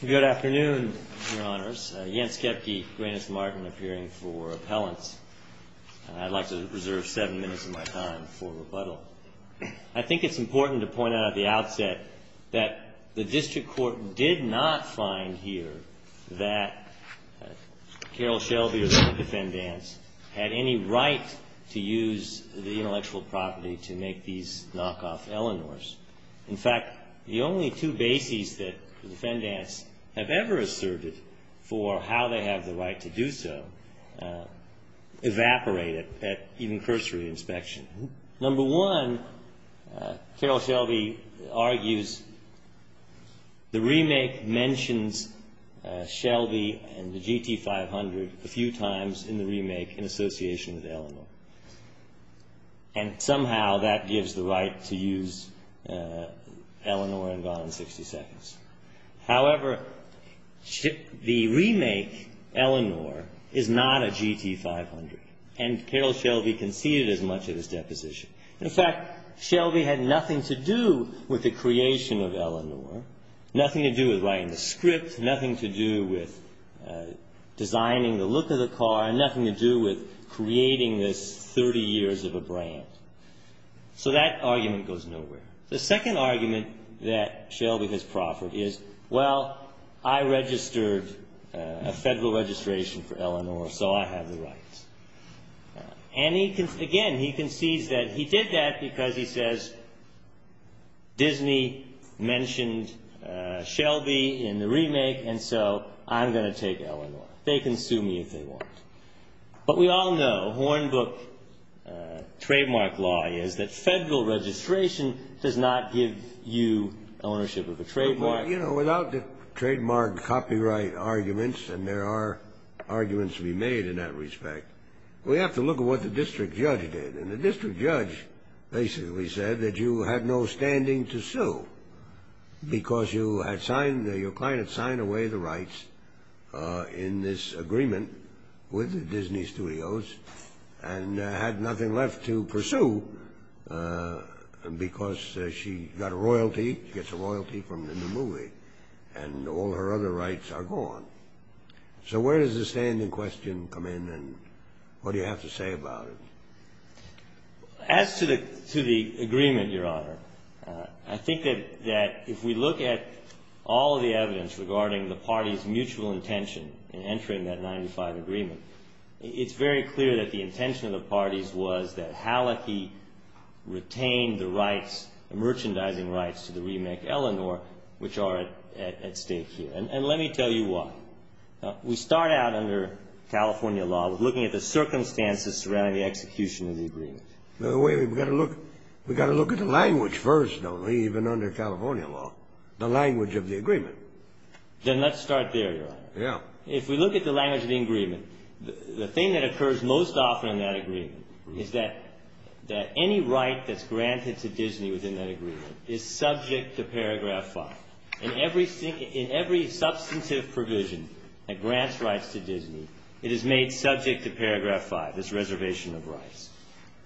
Good afternoon, Your Honors. Jens Kepke, Gwyneth Martin, appearing for appellants. I'd like to reserve seven minutes of my time for rebuttal. I think it's important to point out at the outset that the district court did not find here that Carroll Shelby or the defendants had any right to use the intellectual property to make these knockoff Eleanors. In fact, the only two bases that the defendants have ever asserted for how they have the right to do so evaporated at even cursory inspection. Number one, Carroll Shelby argues the remake mentions Shelby and the GT500 a few times in the remake in association with Eleanor. And somehow that gives the right to use Eleanor in Gone in Sixty Seconds. However, the remake Eleanor is not a GT500, and Carroll Shelby conceded as much of his deposition. In fact, Shelby had nothing to do with the creation of Eleanor, nothing to do with writing the script, nothing to do with designing the look of the car, and nothing to do with creating this 30 years of a brand. So that argument goes nowhere. The second argument that Shelby has proffered is, well, I registered a federal registration for Eleanor, so I have the rights. And again, he concedes that he did that because he says, Disney mentioned Shelby in the remake, and so I'm going to take Eleanor. They can sue me if they want. But we all know, Hornbook trademark law is that federal registration does not give you ownership of a trademark. You know, without the trademark copyright arguments, and there are arguments to be made in that respect, we have to look at what the district judge did. And the district judge basically said that you had no standing to sue because your client had signed away the rights in this agreement with Disney Studios and had nothing left to pursue because she got a royalty, gets a royalty from the movie, and all her other rights are gone. So where does the standing question come in, and what do you have to say about it? As to the agreement, Your Honor, I think that if we look at all of the evidence regarding the parties' mutual intention in entering that 95 agreement, it's very clear that the intention of the parties was that Hallecky retain the rights, the merchandising rights to the remake Eleanor, which are at stake here. And let me tell you why. We start out under California law looking at the circumstances surrounding the execution of the agreement. We've got to look at the language first, don't we, even under California law, the language of the agreement. Then let's start there, Your Honor. If we look at the language of the agreement, the thing that occurs most often in that agreement is that any right that's granted to Disney within that agreement is subject to Paragraph 5. In every substantive provision that grants rights to Disney, it is made subject to Paragraph 5, this reservation of rights.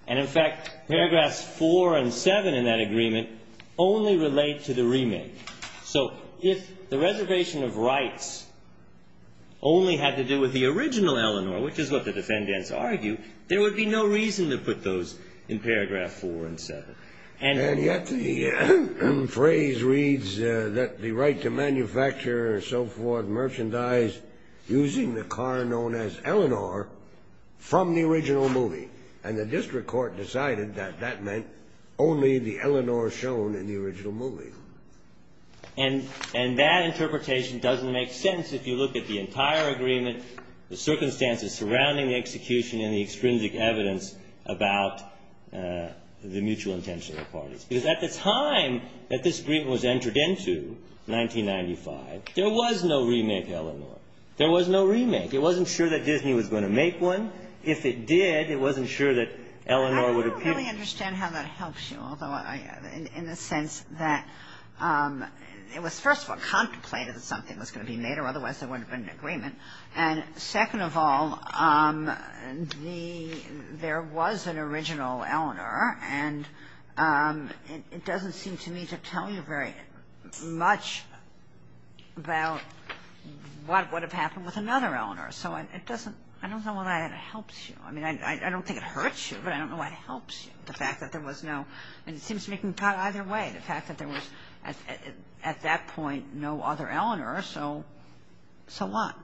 And in fact, Paragraphs 4 and 7 in that agreement only relate to the remake. So if the reservation of rights only had to do with the original Eleanor, which is what the defendants argue, there would be no reason to put those in Paragraph 4 and 7. And yet the phrase reads that the right to manufacture, so forth, merchandise using the car known as Eleanor from the original movie. And the district court decided that that meant only the Eleanor shown in the original movie. And that interpretation doesn't make sense if you look at the entire agreement, the circumstances surrounding the execution, and the extrinsic evidence about the mutual intention of the parties. Because at the time that this agreement was entered into, 1995, there was no remake Eleanor. There was no remake. It wasn't sure that Disney was going to make one. If it did, it wasn't sure that Eleanor would appear. I don't really understand how that helps you, in the sense that it was first of all contemplated that something was going to be made, or otherwise there wouldn't have been an agreement. And second of all, there was an original Eleanor. And it doesn't seem to me to tell you very much about what would have happened with another Eleanor. So I don't know why that helps you. I mean, I don't think it hurts you, but I don't know why it helps you, the fact that there was no – and it seems to me it can cut either way, the fact that there was at that point no other Eleanor. So what?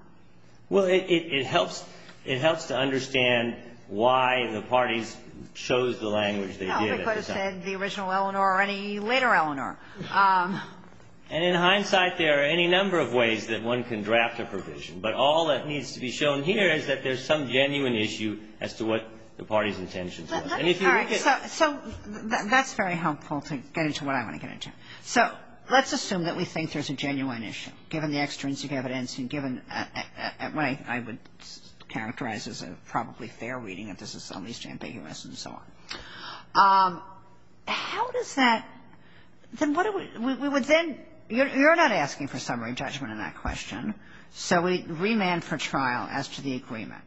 Well, it helps to understand why the parties chose the language they did at the time. No, if they could have said the original Eleanor or any later Eleanor. And in hindsight, there are any number of ways that one can draft a provision. But all that needs to be shown here is that there's some genuine issue as to what the parties' intentions were. And if you look at – All right. So that's very helpful to get into what I want to get into. So let's assume that we think there's a genuine issue, given the extrinsic evidence, and given what I would characterize as a probably fair reading if this is at least ambiguous and so on. How does that – then what do we – we would then – you're not asking for summary judgment on that question. So we remand for trial as to the agreement.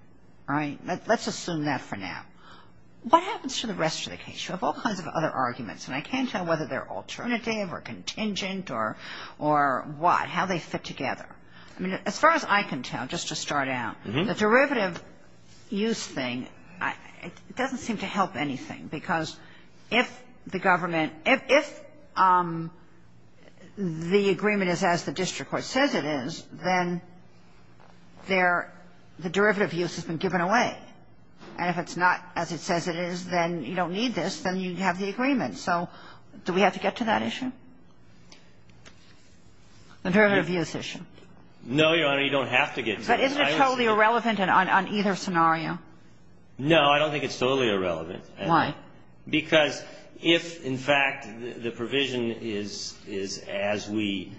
All right? Let's assume that for now. What happens to the rest of the case? You have all kinds of other arguments. And I can't tell whether they're alternative or contingent or what, how they fit together. I mean, as far as I can tell, just to start out, the derivative use thing, it doesn't seem to help anything. Because if the government – if the agreement is as the district court says it is, then there – the derivative use has been given away. And if it's not as it says it is, then you don't need this. Then you have the agreement. So do we have to get to that issue, the derivative use issue? No, Your Honor. You don't have to get to it. But isn't it totally irrelevant on either scenario? No, I don't think it's totally irrelevant. Why? Because if, in fact, the provision is as we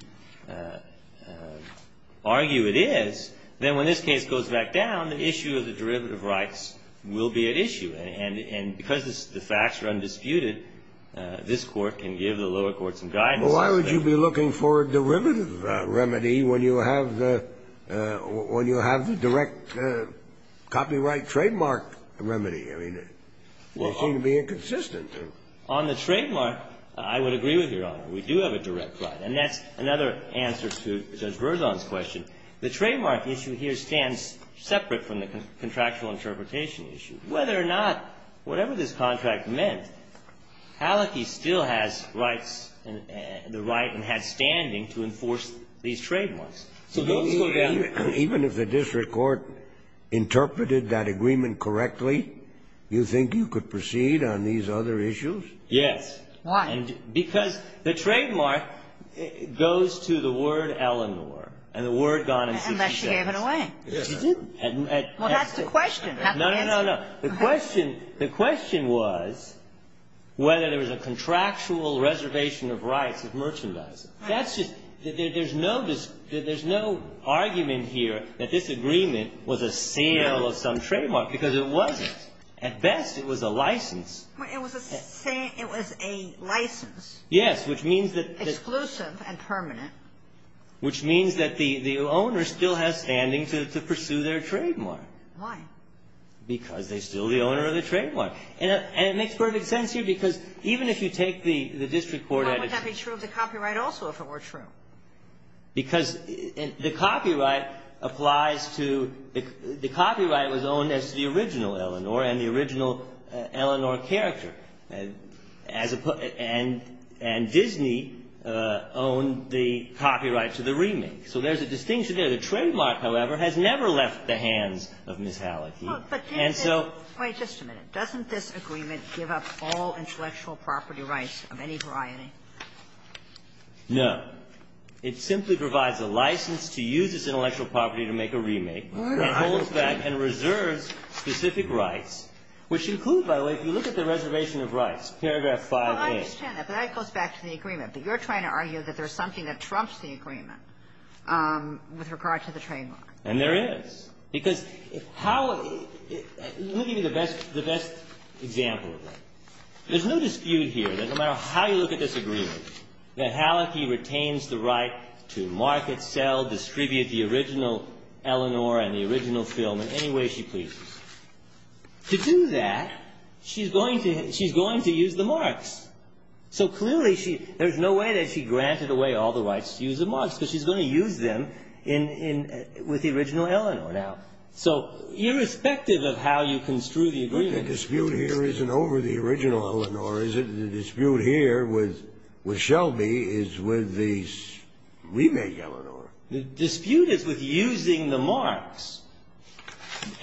argue it is, then when this case goes back down, the issue of the derivative rights will be at issue. And because the facts are undisputed, this Court can give the lower courts some guidance. Well, why would you be looking for a derivative remedy when you have the – when you have the direct copyright trademark remedy? I mean, it would seem to be inconsistent. On the trademark, I would agree with Your Honor. We do have a direct right. And that's another answer to Judge Berzon's question. The trademark issue here stands separate from the contractual interpretation issue. Whether or not, whatever this contract meant, Hallecky still has rights, the right and has standing to enforce these trademarks. So those go down. Even if the district court interpreted that agreement correctly, you think you could proceed on these other issues? Yes. Why? Because the trademark goes to the word Eleanor and the word gone in 60 seconds. Unless she gave it away. She didn't. Well, that's the question. No, no, no, no. The question – the question was whether there was a contractual reservation of rights of merchandising. That's just – there's no – there's no argument here that this agreement was a sale of some trademark, because it wasn't. At best, it was a license. It was a – it was a license. Yes, which means that the – Exclusive and permanent. Which means that the owner still has standing to pursue their trademark. Why? Because they're still the owner of the trademark. And it makes perfect sense here, because even if you take the district court – How would that be true of the copyright also if it were true? Because the copyright applies to – the copyright was owned as the original Eleanor and the original Eleanor character. And Disney owned the copyright to the remake. So there's a distinction there. The trademark, however, has never left the hands of Ms. Halicki. And so – Wait just a minute. Doesn't this agreement give up all intellectual property rights of any variety? No. It simply provides a license to use this intellectual property to make a remake. It holds back and reserves specific rights, which include, by the way, if you look at the reservation of rights, paragraph 5A. Well, I understand that. But that goes back to the agreement. But you're trying to argue that there's something that trumps the agreement with regard to the trademark. And there is. Because how – let me give you the best example of that. There's no dispute here that no matter how you look at this agreement, that Halicki retains the right to market, sell, distribute the original Eleanor and the original film in any way she pleases. To do that, she's going to use the marks. So clearly she – there's no way that she granted away all the rights to use the marks. Because she's going to use them in – with the original Eleanor now. So irrespective of how you construe the agreement – But the dispute here isn't over the original Eleanor, is it? The dispute here with Shelby is with the remake Eleanor. The dispute is with using the marks.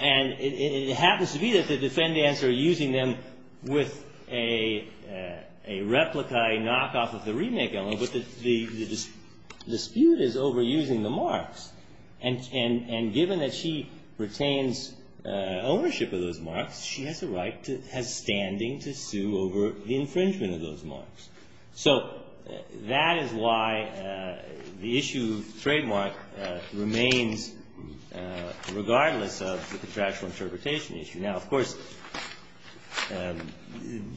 And it happens to be that the defendants are using them with a replica, a knockoff of the remake Eleanor, but the dispute is over using the marks. And given that she retains ownership of those marks, she has a right to – has standing to sue over the infringement of those marks. So that is why the issue of trademark remains regardless of the contractual interpretation issue. Now, of course,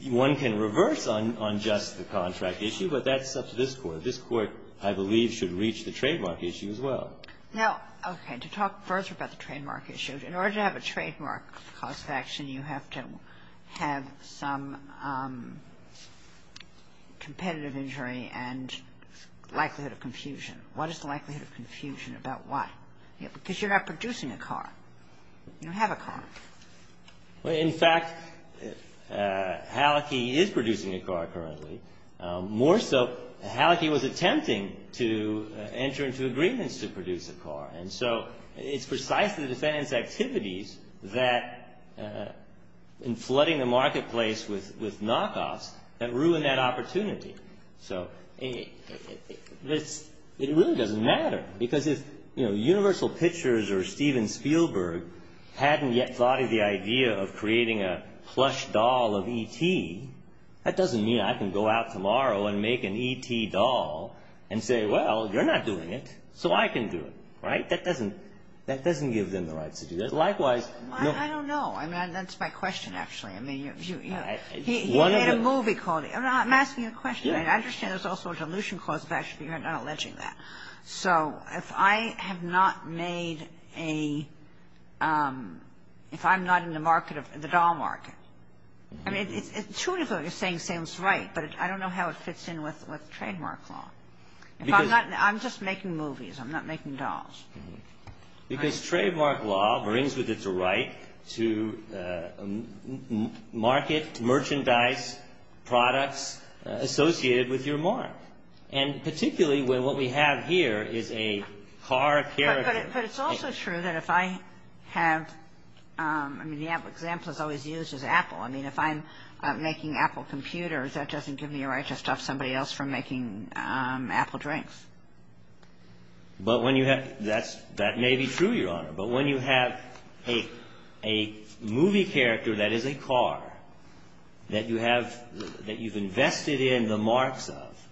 one can reverse on just the contract issue, but that's up to this Court. This Court, I believe, should reach the trademark issue as well. Now, okay, to talk further about the trademark issue, in order to have a trademark cause of action, you have to have some competitive injury and likelihood of confusion. What is the likelihood of confusion about what? Because you're not producing a car. You don't have a car. Well, in fact, Hallecky is producing a car currently. More so, Hallecky was attempting to enter into agreements to produce a car. And so it's precisely the defendants' activities that – in flooding the marketplace with knockoffs that ruin that opportunity. So it really doesn't matter because if, you know, Universal Pictures or Steven Spielberg hadn't yet thought of the idea of creating a plush doll of E.T., that doesn't mean I can go out tomorrow and make an E.T. doll and say, well, you're not doing it, so I can do it. Right? That doesn't – that doesn't give them the right to do that. Likewise – Well, I don't know. I mean, that's my question, actually. I mean, you – he made a movie called – I'm asking a question. I understand there's also a dilution cause of action, but you're not alleging that. So if I have not made a – if I'm not in the market of – the doll market, I mean, it's true what you're saying sounds right, but I don't know how it fits in with trademark law. If I'm not – I'm just making movies. I'm not making dolls. Because trademark law brings with it the right to market merchandise products associated with your mark. And particularly when what we have here is a car character. But it's also true that if I have – I mean, the example is always used is Apple. I mean, if I'm making Apple computers, that doesn't give me a right to stop somebody else from making Apple drinks. But when you have – that's – that may be true, Your Honor. But when you have a movie character that is a car that you have – that you've invested in the marks of,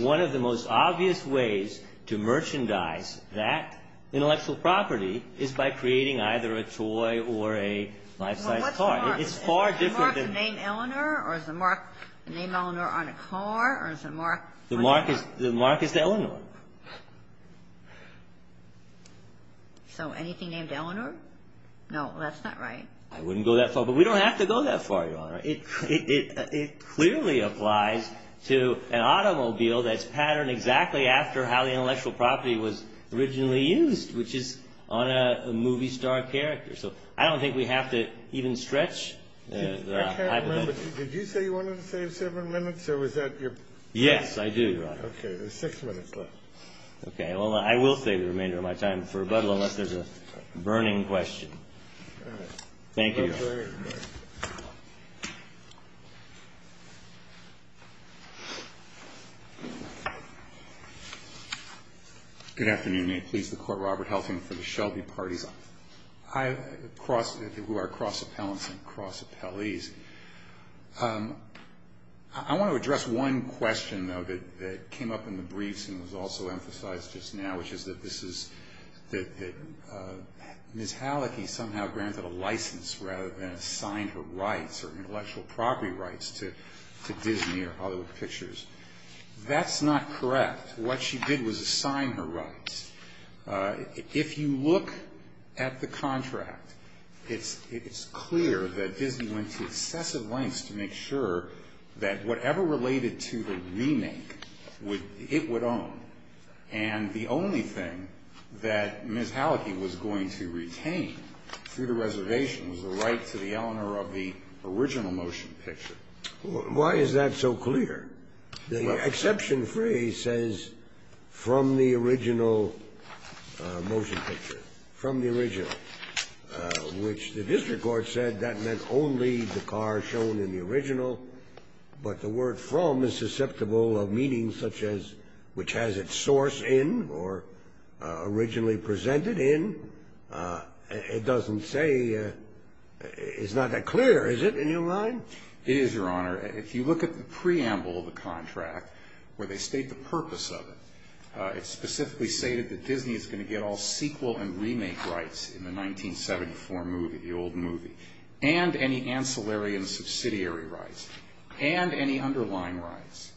one of the most obvious ways to merchandise that intellectual property is by creating either a toy or a life-size car. Well, what's the mark? It's far different than – Is the mark the name Eleanor, or is the mark the name Eleanor on a car, or is the mark – The mark is – the mark is Eleanor. So anything named Eleanor? No, that's not right. I wouldn't go that far. But we don't have to go that far, Your Honor. It clearly applies to an automobile that's patterned exactly after how the intellectual property was originally used, which is on a movie star character. So I don't think we have to even stretch the hypothetical. I can't remember. Did you say you wanted to save seven minutes, or was that your – Yes, I do, Your Honor. Okay. There's six minutes left. Okay. Well, I will save the remainder of my time for rebuttal unless there's a burning question. All right. Thank you, Your Honor. Thank you. Good afternoon. May it please the Court, Robert Helsing for the Shelby parties who are cross-appellants and cross-appellees. I want to address one question, though, that came up in the briefs and was also emphasized just now, which is that this is – that Ms. Hallecky somehow granted a license rather than assigned her rights or intellectual property rights to Disney or Hollywood Pictures. That's not correct. What she did was assign her rights. If you look at the contract, it's clear that Disney went to excessive lengths to make sure that whatever related to the remake, it would own. And the only thing that Ms. Hallecky was going to retain through the reservation was the right to the owner of the original motion picture. Why is that so clear? The exception phrase says, from the original motion picture, from the original, which the district court said that meant only the car shown in the original, but the word from is susceptible of meaning such as which has its source in or originally presented in. It doesn't say – it's not that clear, is it, in your mind? It is, Your Honor. If you look at the preamble of the contract where they state the purpose of it, it specifically stated that Disney is going to get all sequel and remake rights in the 1974 movie, the old movie, and any ancillary and subsidiary rights, and any underlying rights.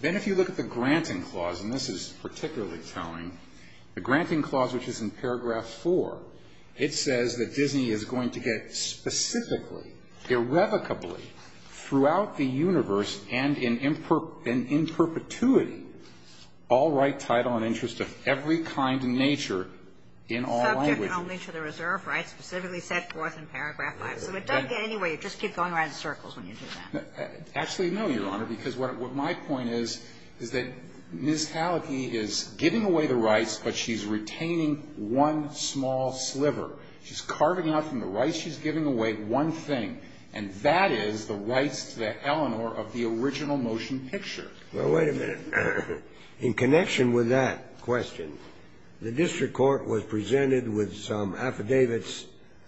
Then if you look at the granting clause, and this is particularly telling, the granting clause which is in paragraph 4, it says that Disney is going to get specifically, irrevocably, throughout the universe, and in perpetuity, all right title and interest of every kind and nature in all languages. So it doesn't get anywhere. You just keep going around in circles when you do that. Actually, no, Your Honor, because what my point is, is that Ms. Hallecky is giving away the rights, but she's retaining one small sliver. She's carving out from the rights she's giving away one thing, and that is the rights to the Eleanor of the original motion picture. Well, wait a minute. In connection with that question, the district court was presented with some affidavits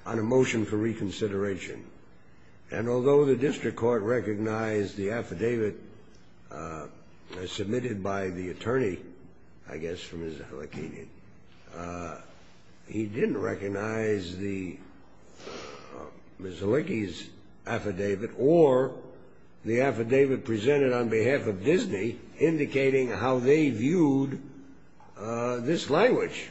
on a motion for reconsideration, and although the district court recognized the affidavit submitted by the attorney, I guess from Ms. Hallecky, he didn't recognize Ms. Hallecky's affidavit, or the affidavit presented on behalf of Disney indicating how they viewed this language.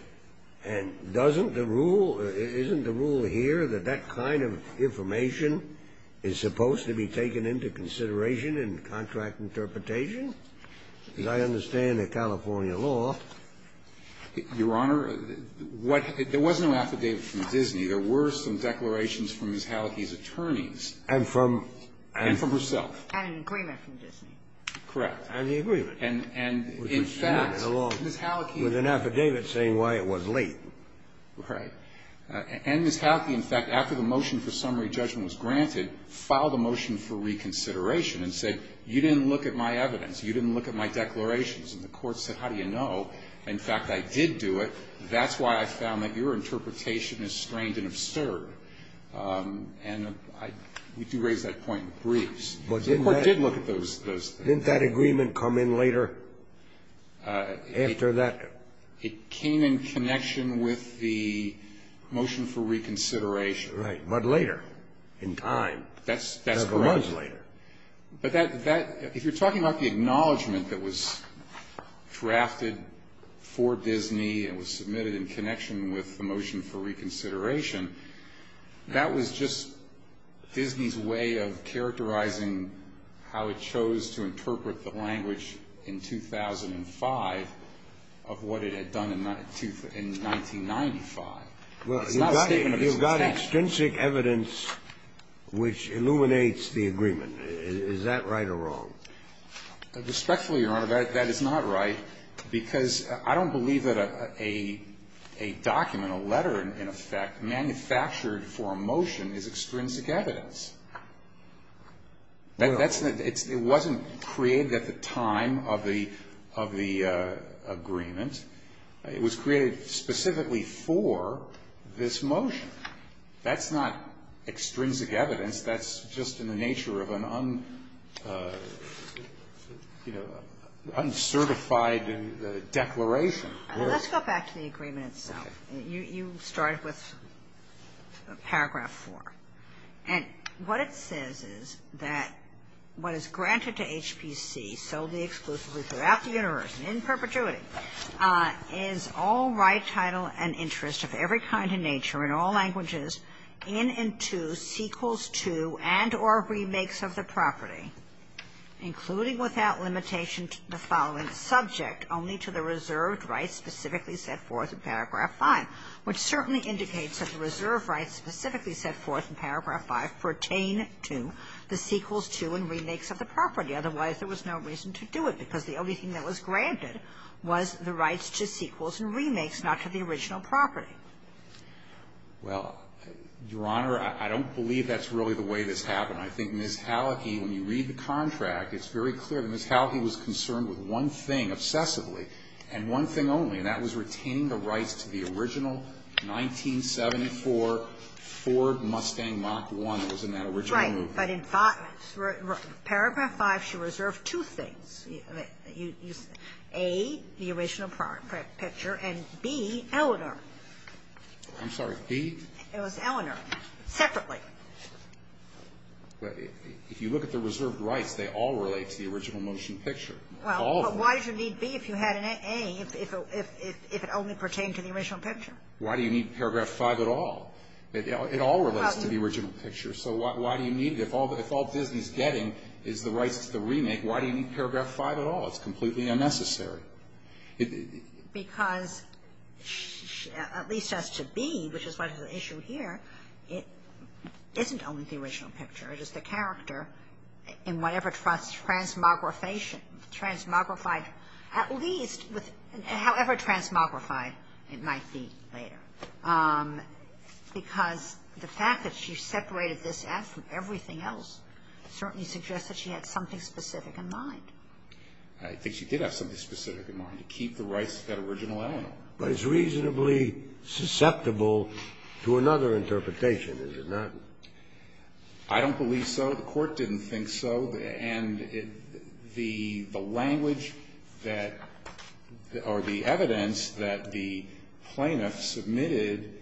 And doesn't the rule, isn't the rule here that that kind of information is supposed to be taken into consideration in contract interpretation? As I understand the California law. Your Honor, there was no affidavit from Disney. There were some declarations from Ms. Hallecky's attorneys. And from? And from herself. And an agreement from Disney. Correct. And the agreement. And in fact, Ms. Hallecky. With an affidavit saying why it was late. Right. And Ms. Hallecky, in fact, after the motion for summary judgment was granted, filed a motion for reconsideration and said, you didn't look at my evidence. You didn't look at my declarations. And the Court said, how do you know? In fact, I did do it. That's why I found that your interpretation is strained and absurd. And we do raise that point in briefs. The Court did look at those. Didn't that agreement come in later after that? It came in connection with the motion for reconsideration. Right. But later in time. That's correct. Several months later. But that, if you're talking about the acknowledgment that was drafted for Disney and was submitted in connection with the motion for reconsideration, that was just Disney's way of characterizing how it chose to interpret the language in 2005 of what it had done in 1995. It's not a statement of its own stature. You've got extrinsic evidence which illuminates the agreement. Is that right or wrong? Respectfully, Your Honor, that is not right. Because I don't believe that a document, a letter, in effect, manufactured for a motion is extrinsic evidence. It wasn't created at the time of the agreement. It was created specifically for this motion. That's not extrinsic evidence. That's just in the nature of an uncertified declaration. Let's go back to the agreement itself. You started with Paragraph 4. And what it says is that what is granted to HPC, solely exclusively throughout the universe and in perpetuity, is all right, title, and interest of every kind and nature in all languages in and to sequels to and or remakes of the property, including without limitation to the following subject, only to the reserved rights specifically set forth in Paragraph 5, which certainly indicates that the reserved rights specifically set forth in Paragraph 5 pertain to the sequels to and remakes of the property. Otherwise, there was no reason to do it, because the only thing that was granted was the rights to sequels and remakes, not to the original property. Well, Your Honor, I don't believe that's really the way this happened. I think Ms. Hallecky, when you read the contract, it's very clear that Ms. Hallecky was concerned with one thing obsessively and one thing only, and that was retaining the rights to the original 1974 Ford Mustang Mach 1 that was in that original movement. Right. But in Paragraph 5, she reserved two things. A, the original picture, and B, Eleanor. I'm sorry. B? It was Eleanor, separately. If you look at the reserved rights, they all relate to the original motion picture. All of them. Well, but why did you need B if you had an A, if it only pertained to the original picture? Why do you need Paragraph 5 at all? It all relates to the original picture. So why do you need it? If all Disney's getting is the rights to the remake, why do you need Paragraph 5 at all? It's completely unnecessary. Because, at least as to B, which is what is the issue here, it isn't only the original picture. It is the character in whatever transmogrification, transmogrified at least however transmogrified it might be later. Because the fact that she separated this out from everything else certainly suggests that she had something specific in mind. I think she did have something specific in mind, to keep the rights to that original Eleanor. But it's reasonably susceptible to another interpretation, is it not? I don't believe so. The Court didn't think so. And the language that or the evidence that the plaintiff submitted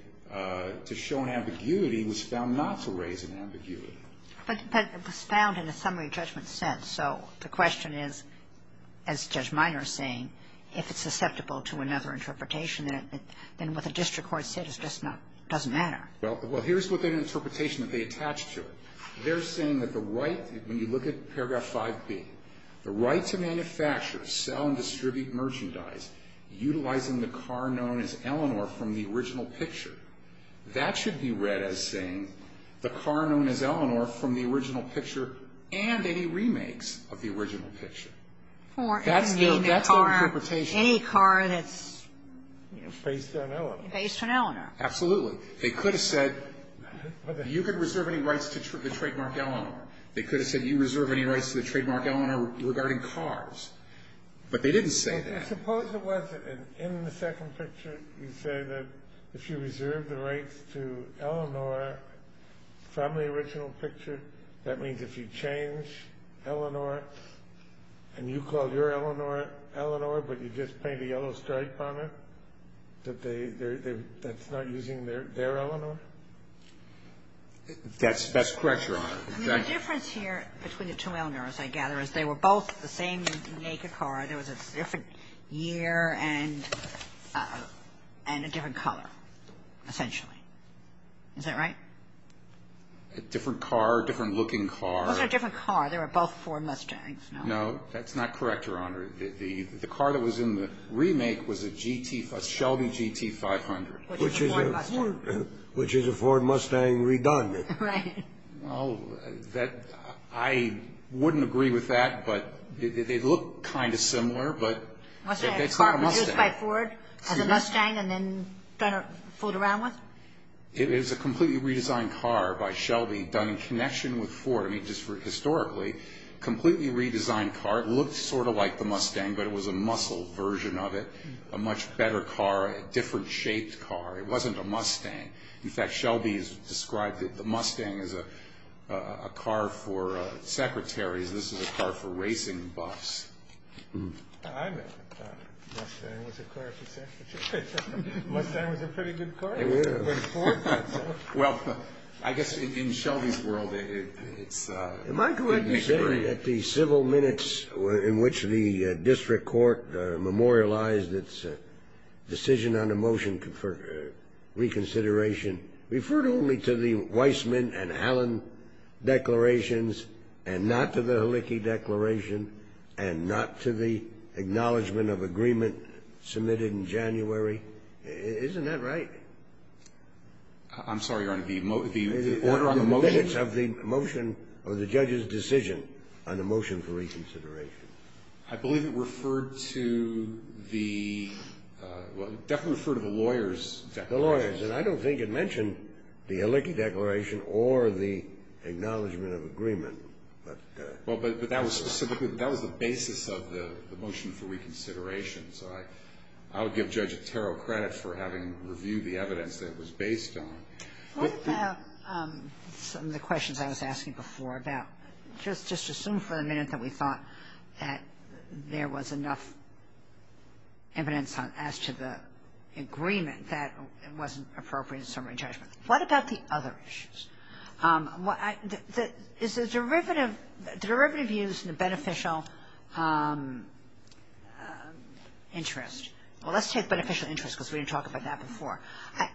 to show an ambiguity was found not to raise an ambiguity. But it was found in a summary judgment sense. So the question is, as Judge Minor is saying, if it's susceptible to another interpretation, then what the district court said is just not, doesn't matter. Well, here's what the interpretation that they attached to it. They're saying that the right, when you look at paragraph 5B, the right to manufacture, sell and distribute merchandise utilizing the car known as Eleanor from the original picture. That should be read as saying the car known as Eleanor from the original picture and any remakes of the original picture. That's the interpretation. Any car that's based on Eleanor. Based on Eleanor. Absolutely. They could have said you can reserve any rights to the trademark Eleanor. They could have said you reserve any rights to the trademark Eleanor regarding cars. But they didn't say that. Suppose it wasn't. And in the second picture, you say that if you reserve the rights to Eleanor from the original picture, that means if you change Eleanor and you call your Eleanor Eleanor, but you just paint a yellow stripe on it, that that's not using their Eleanor? That's correct, Your Honor. The difference here between the two Eleanors, I gather, is they were both the same naked car. There was a different year and a different color, essentially. Is that right? Different car, different looking car. Those are different cars. They were both Ford Mustangs. No. No, that's not correct, Your Honor. The car that was in the remake was a Shelby GT500. Which is a Ford Mustang redone. Right. Well, I wouldn't agree with that, but they look kind of similar, but it's not a Mustang. Was it used by Ford as a Mustang and then kind of fooled around with? It was a completely redesigned car by Shelby done in connection with Ford. I mean, just historically, completely redesigned car. It looked sort of like the Mustang, but it was a muscle version of it. A much better car, a different shaped car. It wasn't a Mustang. In fact, Shelby has described the Mustang as a car for secretaries. This is a car for racing buffs. I know. Mustang was a car for secretaries. Mustang was a pretty good car. It was. Well, I guess in Shelby's world, it's a big story. Am I correct in saying that the civil minutes in which the district court memorialized its decision on a motion for reconsideration referred only to the Weissman and Allen declarations and not to the Halicki declaration and not to the acknowledgment of agreement submitted in January? Isn't that right? I'm sorry, Your Honor. The order on the motion? The minutes of the motion or the judge's decision on the motion for reconsideration. I believe it referred to the – well, it definitely referred to the lawyer's declaration. The lawyer's. And I don't think it mentioned the Halicki declaration or the acknowledgment of agreement. Well, but that was specifically – that was the basis of the motion for reconsideration. So I would give Judge Attaro credit for having reviewed the evidence that it was based on. What about some of the questions I was asking before about just assume for a minute that we thought that there was enough evidence as to the agreement that it wasn't appropriate in summary judgment. What about the other issues? Is the derivative used in the beneficial interest? Well, let's take beneficial interest because we didn't talk about that before.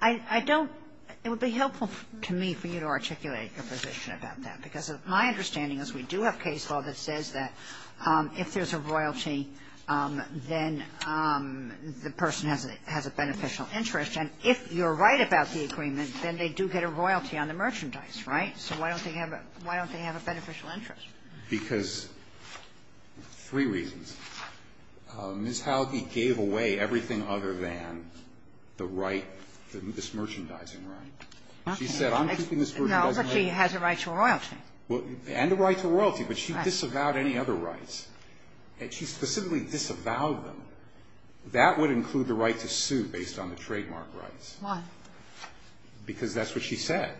I don't – it would be helpful to me for you to articulate your position about that because my understanding is we do have case law that says that if there's a royalty, then the person has a beneficial interest. And if you're right about the agreement, then they do get a royalty on the merchandise, right? So why don't they have a – why don't they have a beneficial interest? Because three reasons. Ms. Halicki gave away everything other than the right, this merchandising right. She said, I'm keeping this merchandise. No, but she has a right to a royalty. And a right to a royalty, but she disavowed any other rights. She specifically disavowed them. That would include the right to sue based on the trademark rights. Why? Because that's what she said.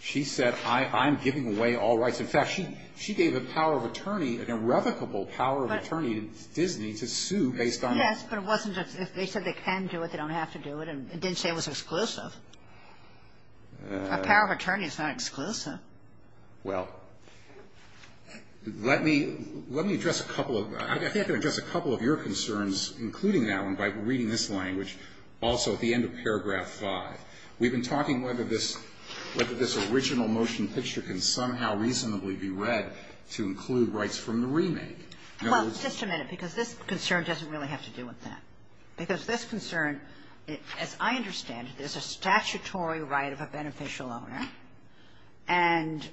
She said, I'm giving away all rights. In fact, she gave a power of attorney, an irrevocable power of attorney in Disney to sue based on rights. Yes, but it wasn't just – they said they can do it. They don't have to do it. It didn't say it was exclusive. A power of attorney is not exclusive. Well, let me address a couple of – I think I can address a couple of your concerns, including that one, by reading this language also at the end of paragraph 5. We've been talking whether this original motion picture can somehow reasonably be read to include rights from the remake. Well, just a minute, because this concern doesn't really have to do with that. Because this concern, as I understand it, is a statutory right of a beneficial owner, and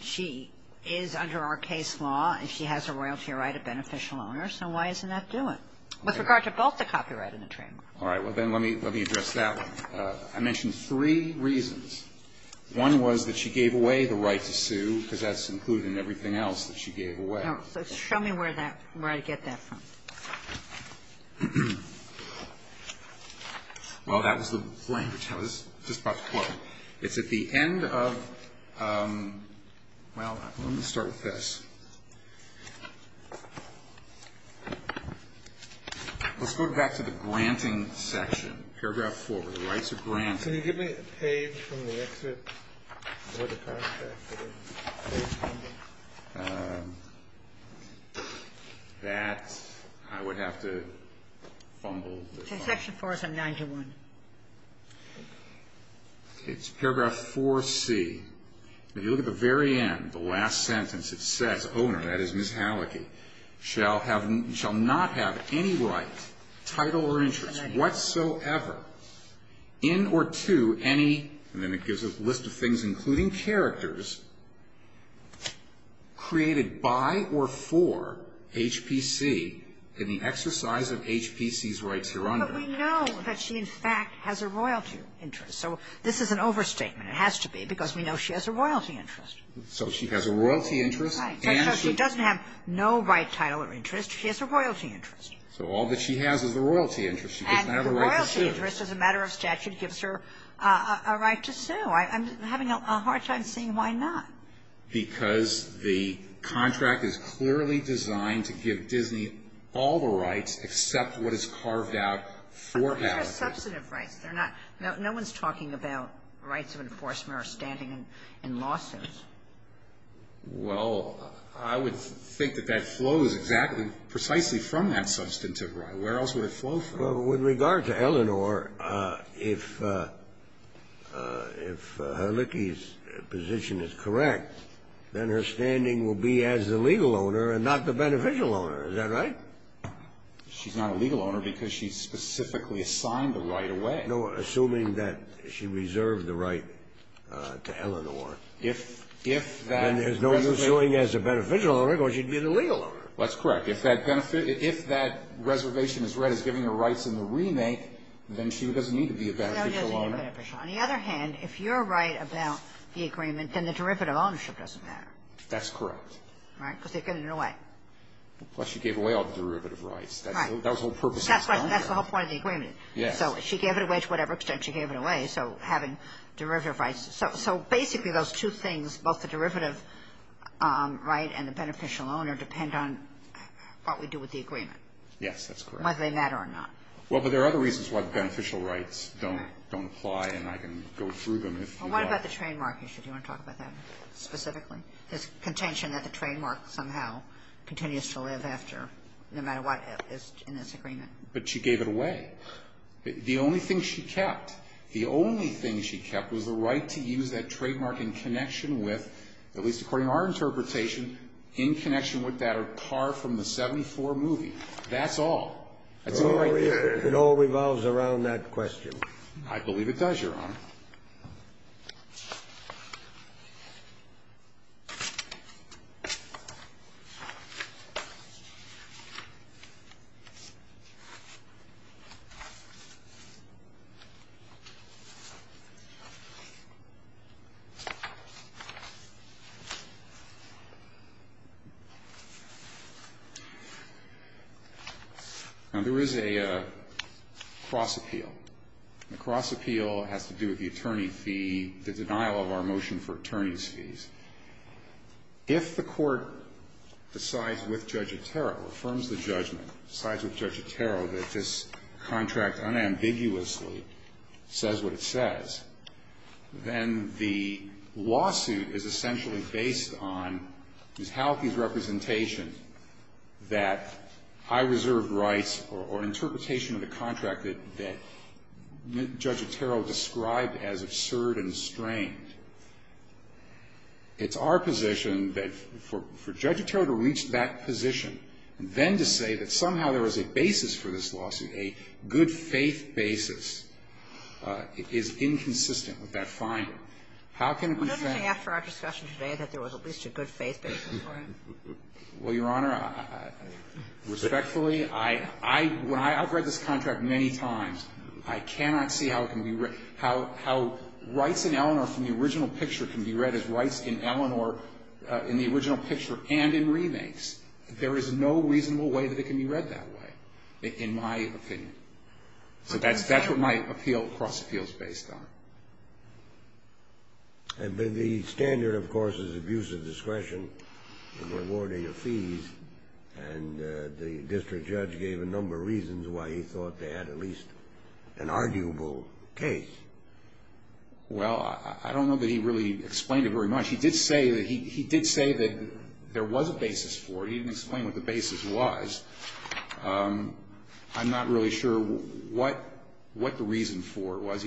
she is under our case law, and she has a royalty right of beneficial owner, so why isn't that doing? With regard to both the copyright and the trademark. All right. Well, then let me address that one. I mentioned three reasons. One was that she gave away the right to sue because that's included in everything else that she gave away. So show me where that – where I get that from. Well, that was the language. I was just about to quote it. It's at the end of – well, let me start with this. Let's go back to the granting section, paragraph 4, where the rights are granted. Can you give me a page from the exit for the contract? That, I would have to fumble. It's in section 4, 791. Okay. It's paragraph 4C. If you look at the very end, the last sentence, it says, owner, that is Ms. Hallecky, shall have – shall not have any right, title, or interest whatsoever in or to any And then it gives a list of things including characters created by or for HPC in the exercise of HPC's rights here under. But we know that she, in fact, has a royalty interest. So this is an overstatement. It has to be because we know she has a royalty interest. So she has a royalty interest and she – Right. So she doesn't have no right, title, or interest. She has a royalty interest. So all that she has is a royalty interest. She doesn't have a right to sue. She has a royalty interest as a matter of statute. It gives her a right to sue. I'm having a hard time seeing why not. Because the contract is clearly designed to give Disney all the rights except what is carved out for Hallecky. But those are substantive rights. They're not – no one's talking about rights of enforcement or standing in lawsuits. Well, I would think that that flows exactly precisely from that substantive right. Where else would it flow from? Well, with regard to Eleanor, if Hallecky's position is correct, then her standing will be as the legal owner and not the beneficial owner. Is that right? She's not a legal owner because she's specifically assigned the right away. No, assuming that she reserved the right to Eleanor. If that reservation – Then there's no suing as a beneficial owner because she'd be the legal owner. That's correct. If that reservation is read as giving her rights in the remake, then she doesn't need to be a beneficial owner. On the other hand, if you're right about the agreement, then the derivative ownership doesn't matter. That's correct. Right? Because they're giving it away. Plus she gave away all the derivative rights. Right. That was the whole purpose of the agreement. That's the whole point of the agreement. Yes. So she gave it away to whatever extent she gave it away, so having derivative rights. So basically those two things, both the derivative right and the beneficial owner, depend on what we do with the agreement. Yes, that's correct. Whether they matter or not. Well, but there are other reasons why the beneficial rights don't apply, and I can go through them if you'd like. Well, what about the trademark issue? Do you want to talk about that specifically? This contention that the trademark somehow continues to live after no matter what is in this agreement. But she gave it away. The only thing she kept. The only thing she kept was the right to use that trademark in connection with, at least according to our interpretation, in connection with that car from the 74 movie. That's all. It all revolves around that question. I believe it does, Your Honor. Now, there is a cross-appeal. The cross-appeal has to do with the attorney fee, the denial of our motion for attorney's fees. If the court decides with Judge Otero, affirms the judgment, decides with Judge Otero that this contract unambiguously says what it says, then the lawsuit is essentially based on Ms. Halkey's representation that high-reserved rights or interpretation of the contract that Judge Otero described as absurd and strained. It's our position that for Judge Otero to reach that position and then to say that somehow there was a basis for this lawsuit, a good-faith basis, is inconsistent with that finding. How can it be said that there was at least a good-faith basis for it? Well, Your Honor, respectfully, I've read this contract many times. I cannot see how rights in Eleanor from the original picture can be read as rights in Eleanor in the original picture and in remakes. There is no reasonable way that it can be read that way, in my opinion. So that's what my appeal, cross-appeal, is based on. The standard, of course, is abuse of discretion and rewarding of fees. And the district judge gave a number of reasons why he thought they had at least an arguable case. Well, I don't know that he really explained it very much. He did say that there was a basis for it. He didn't explain what the basis was. He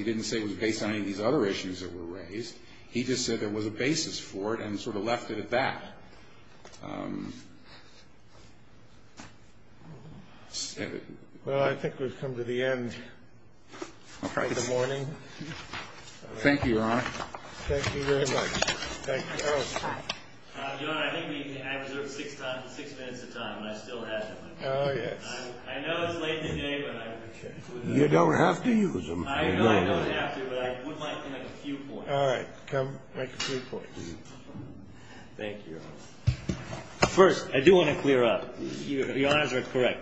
didn't say it was based on any of these other issues that were raised. He just said there was a basis for it and sort of left it at that. Well, I think we've come to the end of the morning. Thank you, Your Honor. Thank you very much. Thank you. Your Honor, I think I reserved six minutes of time, and I still have them. Oh, yes. I know it's late in the day, but I have them. You don't have to use them. I don't have to, but I would like to make a few points. All right. Come, make a few points. Thank you, Your Honor. First, I do want to clear up. Your Honors are correct.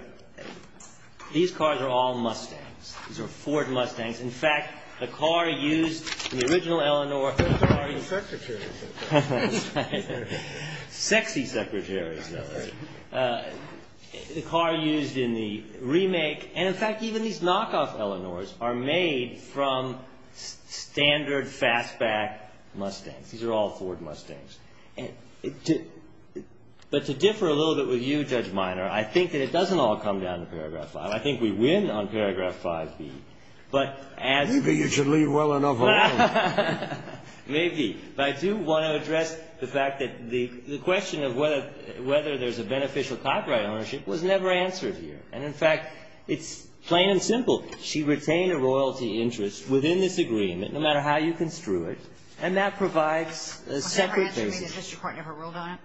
These cars are all Mustangs. These are Ford Mustangs. In fact, the car used in the original Eleanor... Those are already secretaries. That's right. Sexy secretaries. The car used in the remake... And, in fact, even these knockoff Eleanors are made from standard fastback Mustangs. These are all Ford Mustangs. But to differ a little bit with you, Judge Minor, I think that it doesn't all come down to paragraph 5. I think we win on paragraph 5B. Maybe you should leave well enough alone. Maybe. But I do want to address the fact that the question of whether there's a beneficial copyright ownership was never answered here. And, in fact, it's plain and simple. She retained a royalty interest within this agreement, no matter how you construe it, and that provides a separate basis. Was that her answer? Maybe the district court never ruled on it.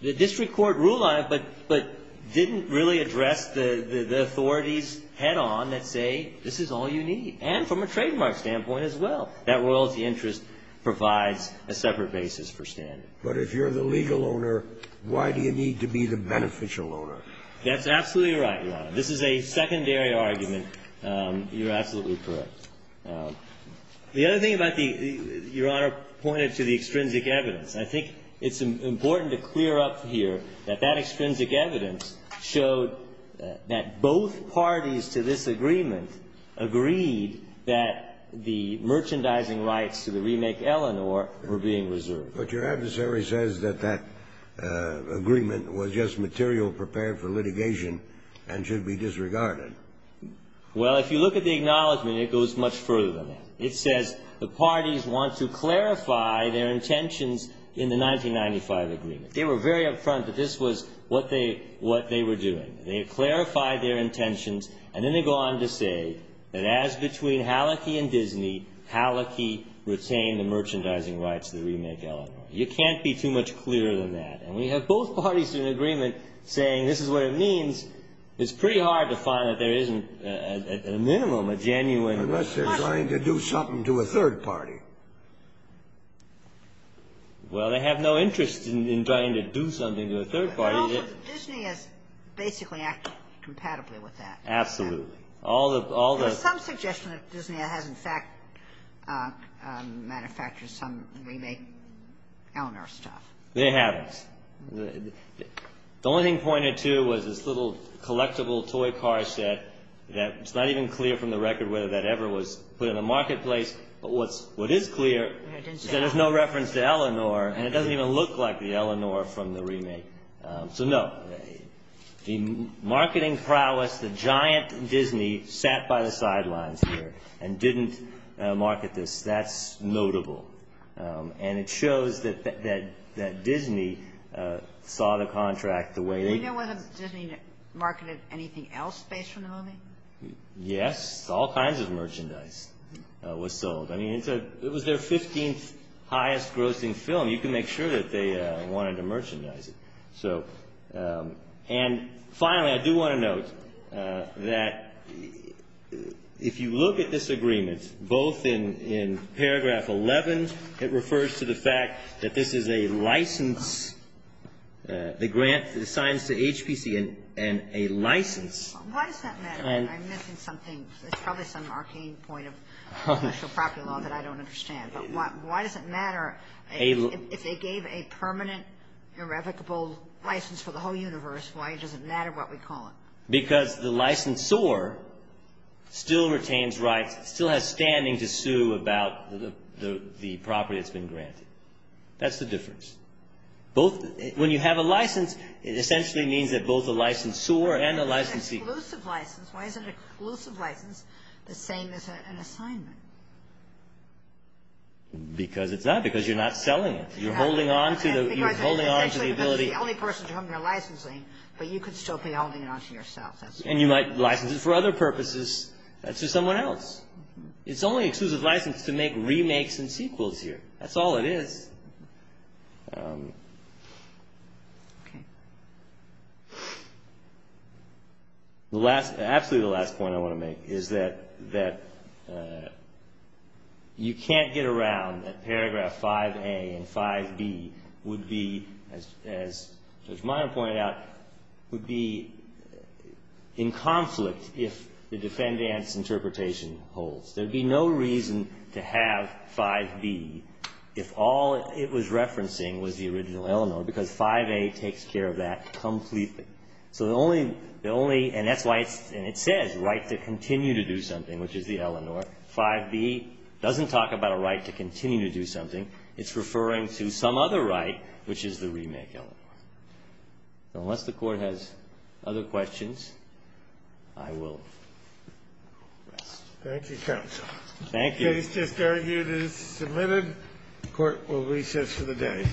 The district court ruled on it but didn't really address the authorities head on that say this is all you need. And from a trademark standpoint as well, that royalty interest provides a separate basis for standard. But if you're the legal owner, why do you need to be the beneficial owner? That's absolutely right, Your Honor. This is a secondary argument. You're absolutely correct. The other thing about the — Your Honor pointed to the extrinsic evidence. I think it's important to clear up here that that extrinsic evidence showed that both parties to this agreement agreed that the merchandising rights to the remake Eleanor were being reserved. But your adversary says that that agreement was just material prepared for litigation and should be disregarded. Well, if you look at the acknowledgment, it goes much further than that. It says the parties want to clarify their intentions in the 1995 agreement. They were very upfront that this was what they were doing. They clarified their intentions, and then they go on to say that as between Hallecky and Disney, Hallecky retained the merchandising rights to the remake Eleanor. You can't be too much clearer than that. And we have both parties to an agreement saying this is what it means. It's pretty hard to find that there isn't, at a minimum, a genuine — Unless they're trying to do something to a third party. Well, they have no interest in trying to do something to a third party. But Disney has basically acted compatibly with that. Absolutely. All the — There's some suggestion that Disney has, in fact, manufactured some remake Eleanor stuff. It happens. The only thing pointed to was this little collectible toy car set. It's not even clear from the record whether that ever was put in the marketplace. But what is clear is that there's no reference to Eleanor, and it doesn't even look like the Eleanor from the remake. So, no, the marketing prowess, the giant Disney sat by the sidelines here and didn't market this, that's notable. And it shows that Disney saw the contract the way they — Do you know whether Disney marketed anything else based on the movie? Yes. All kinds of merchandise was sold. I mean, it was their 15th highest grossing film. You can make sure that they wanted to merchandise it. And finally, I do want to note that if you look at this agreement, both in paragraph 11, it refers to the fact that this is a license, the grant, the signs to HPC and a license. Why does that matter? I'm missing something. It's probably some arcane point of special property law that I don't understand. But why does it matter if they gave a permanent irrevocable license for the whole universe, why does it matter what we call it? Because the licensor still retains rights, still has standing to sue about the property that's been granted. That's the difference. Both — when you have a license, it essentially means that both the licensor and the licensee — Because it's not. Because you're not selling it. You're holding on to the ability — Because it's the only person to whom you're licensing, but you could still be holding it on to yourself. And you might license it for other purposes to someone else. It's only exclusive license to make remakes and sequels here. That's all it is. Okay. The last — absolutely the last point I want to make is that you can't get around that paragraph 5A and 5B would be, as Judge Meyer pointed out, would be in conflict if the defendant's interpretation holds. There would be no reason to have 5B if all it was referencing was the original Eleanor, because 5A takes care of that completely. So the only — the only — and that's why it's — and it says right to continue to do something, which is the Eleanor. 5B doesn't talk about a right to continue to do something. It's referring to some other right, which is the remake Eleanor. Unless the Court has other questions, I will rest. Thank you, counsel. Thank you. The case just argued is submitted. Court will recess for the day.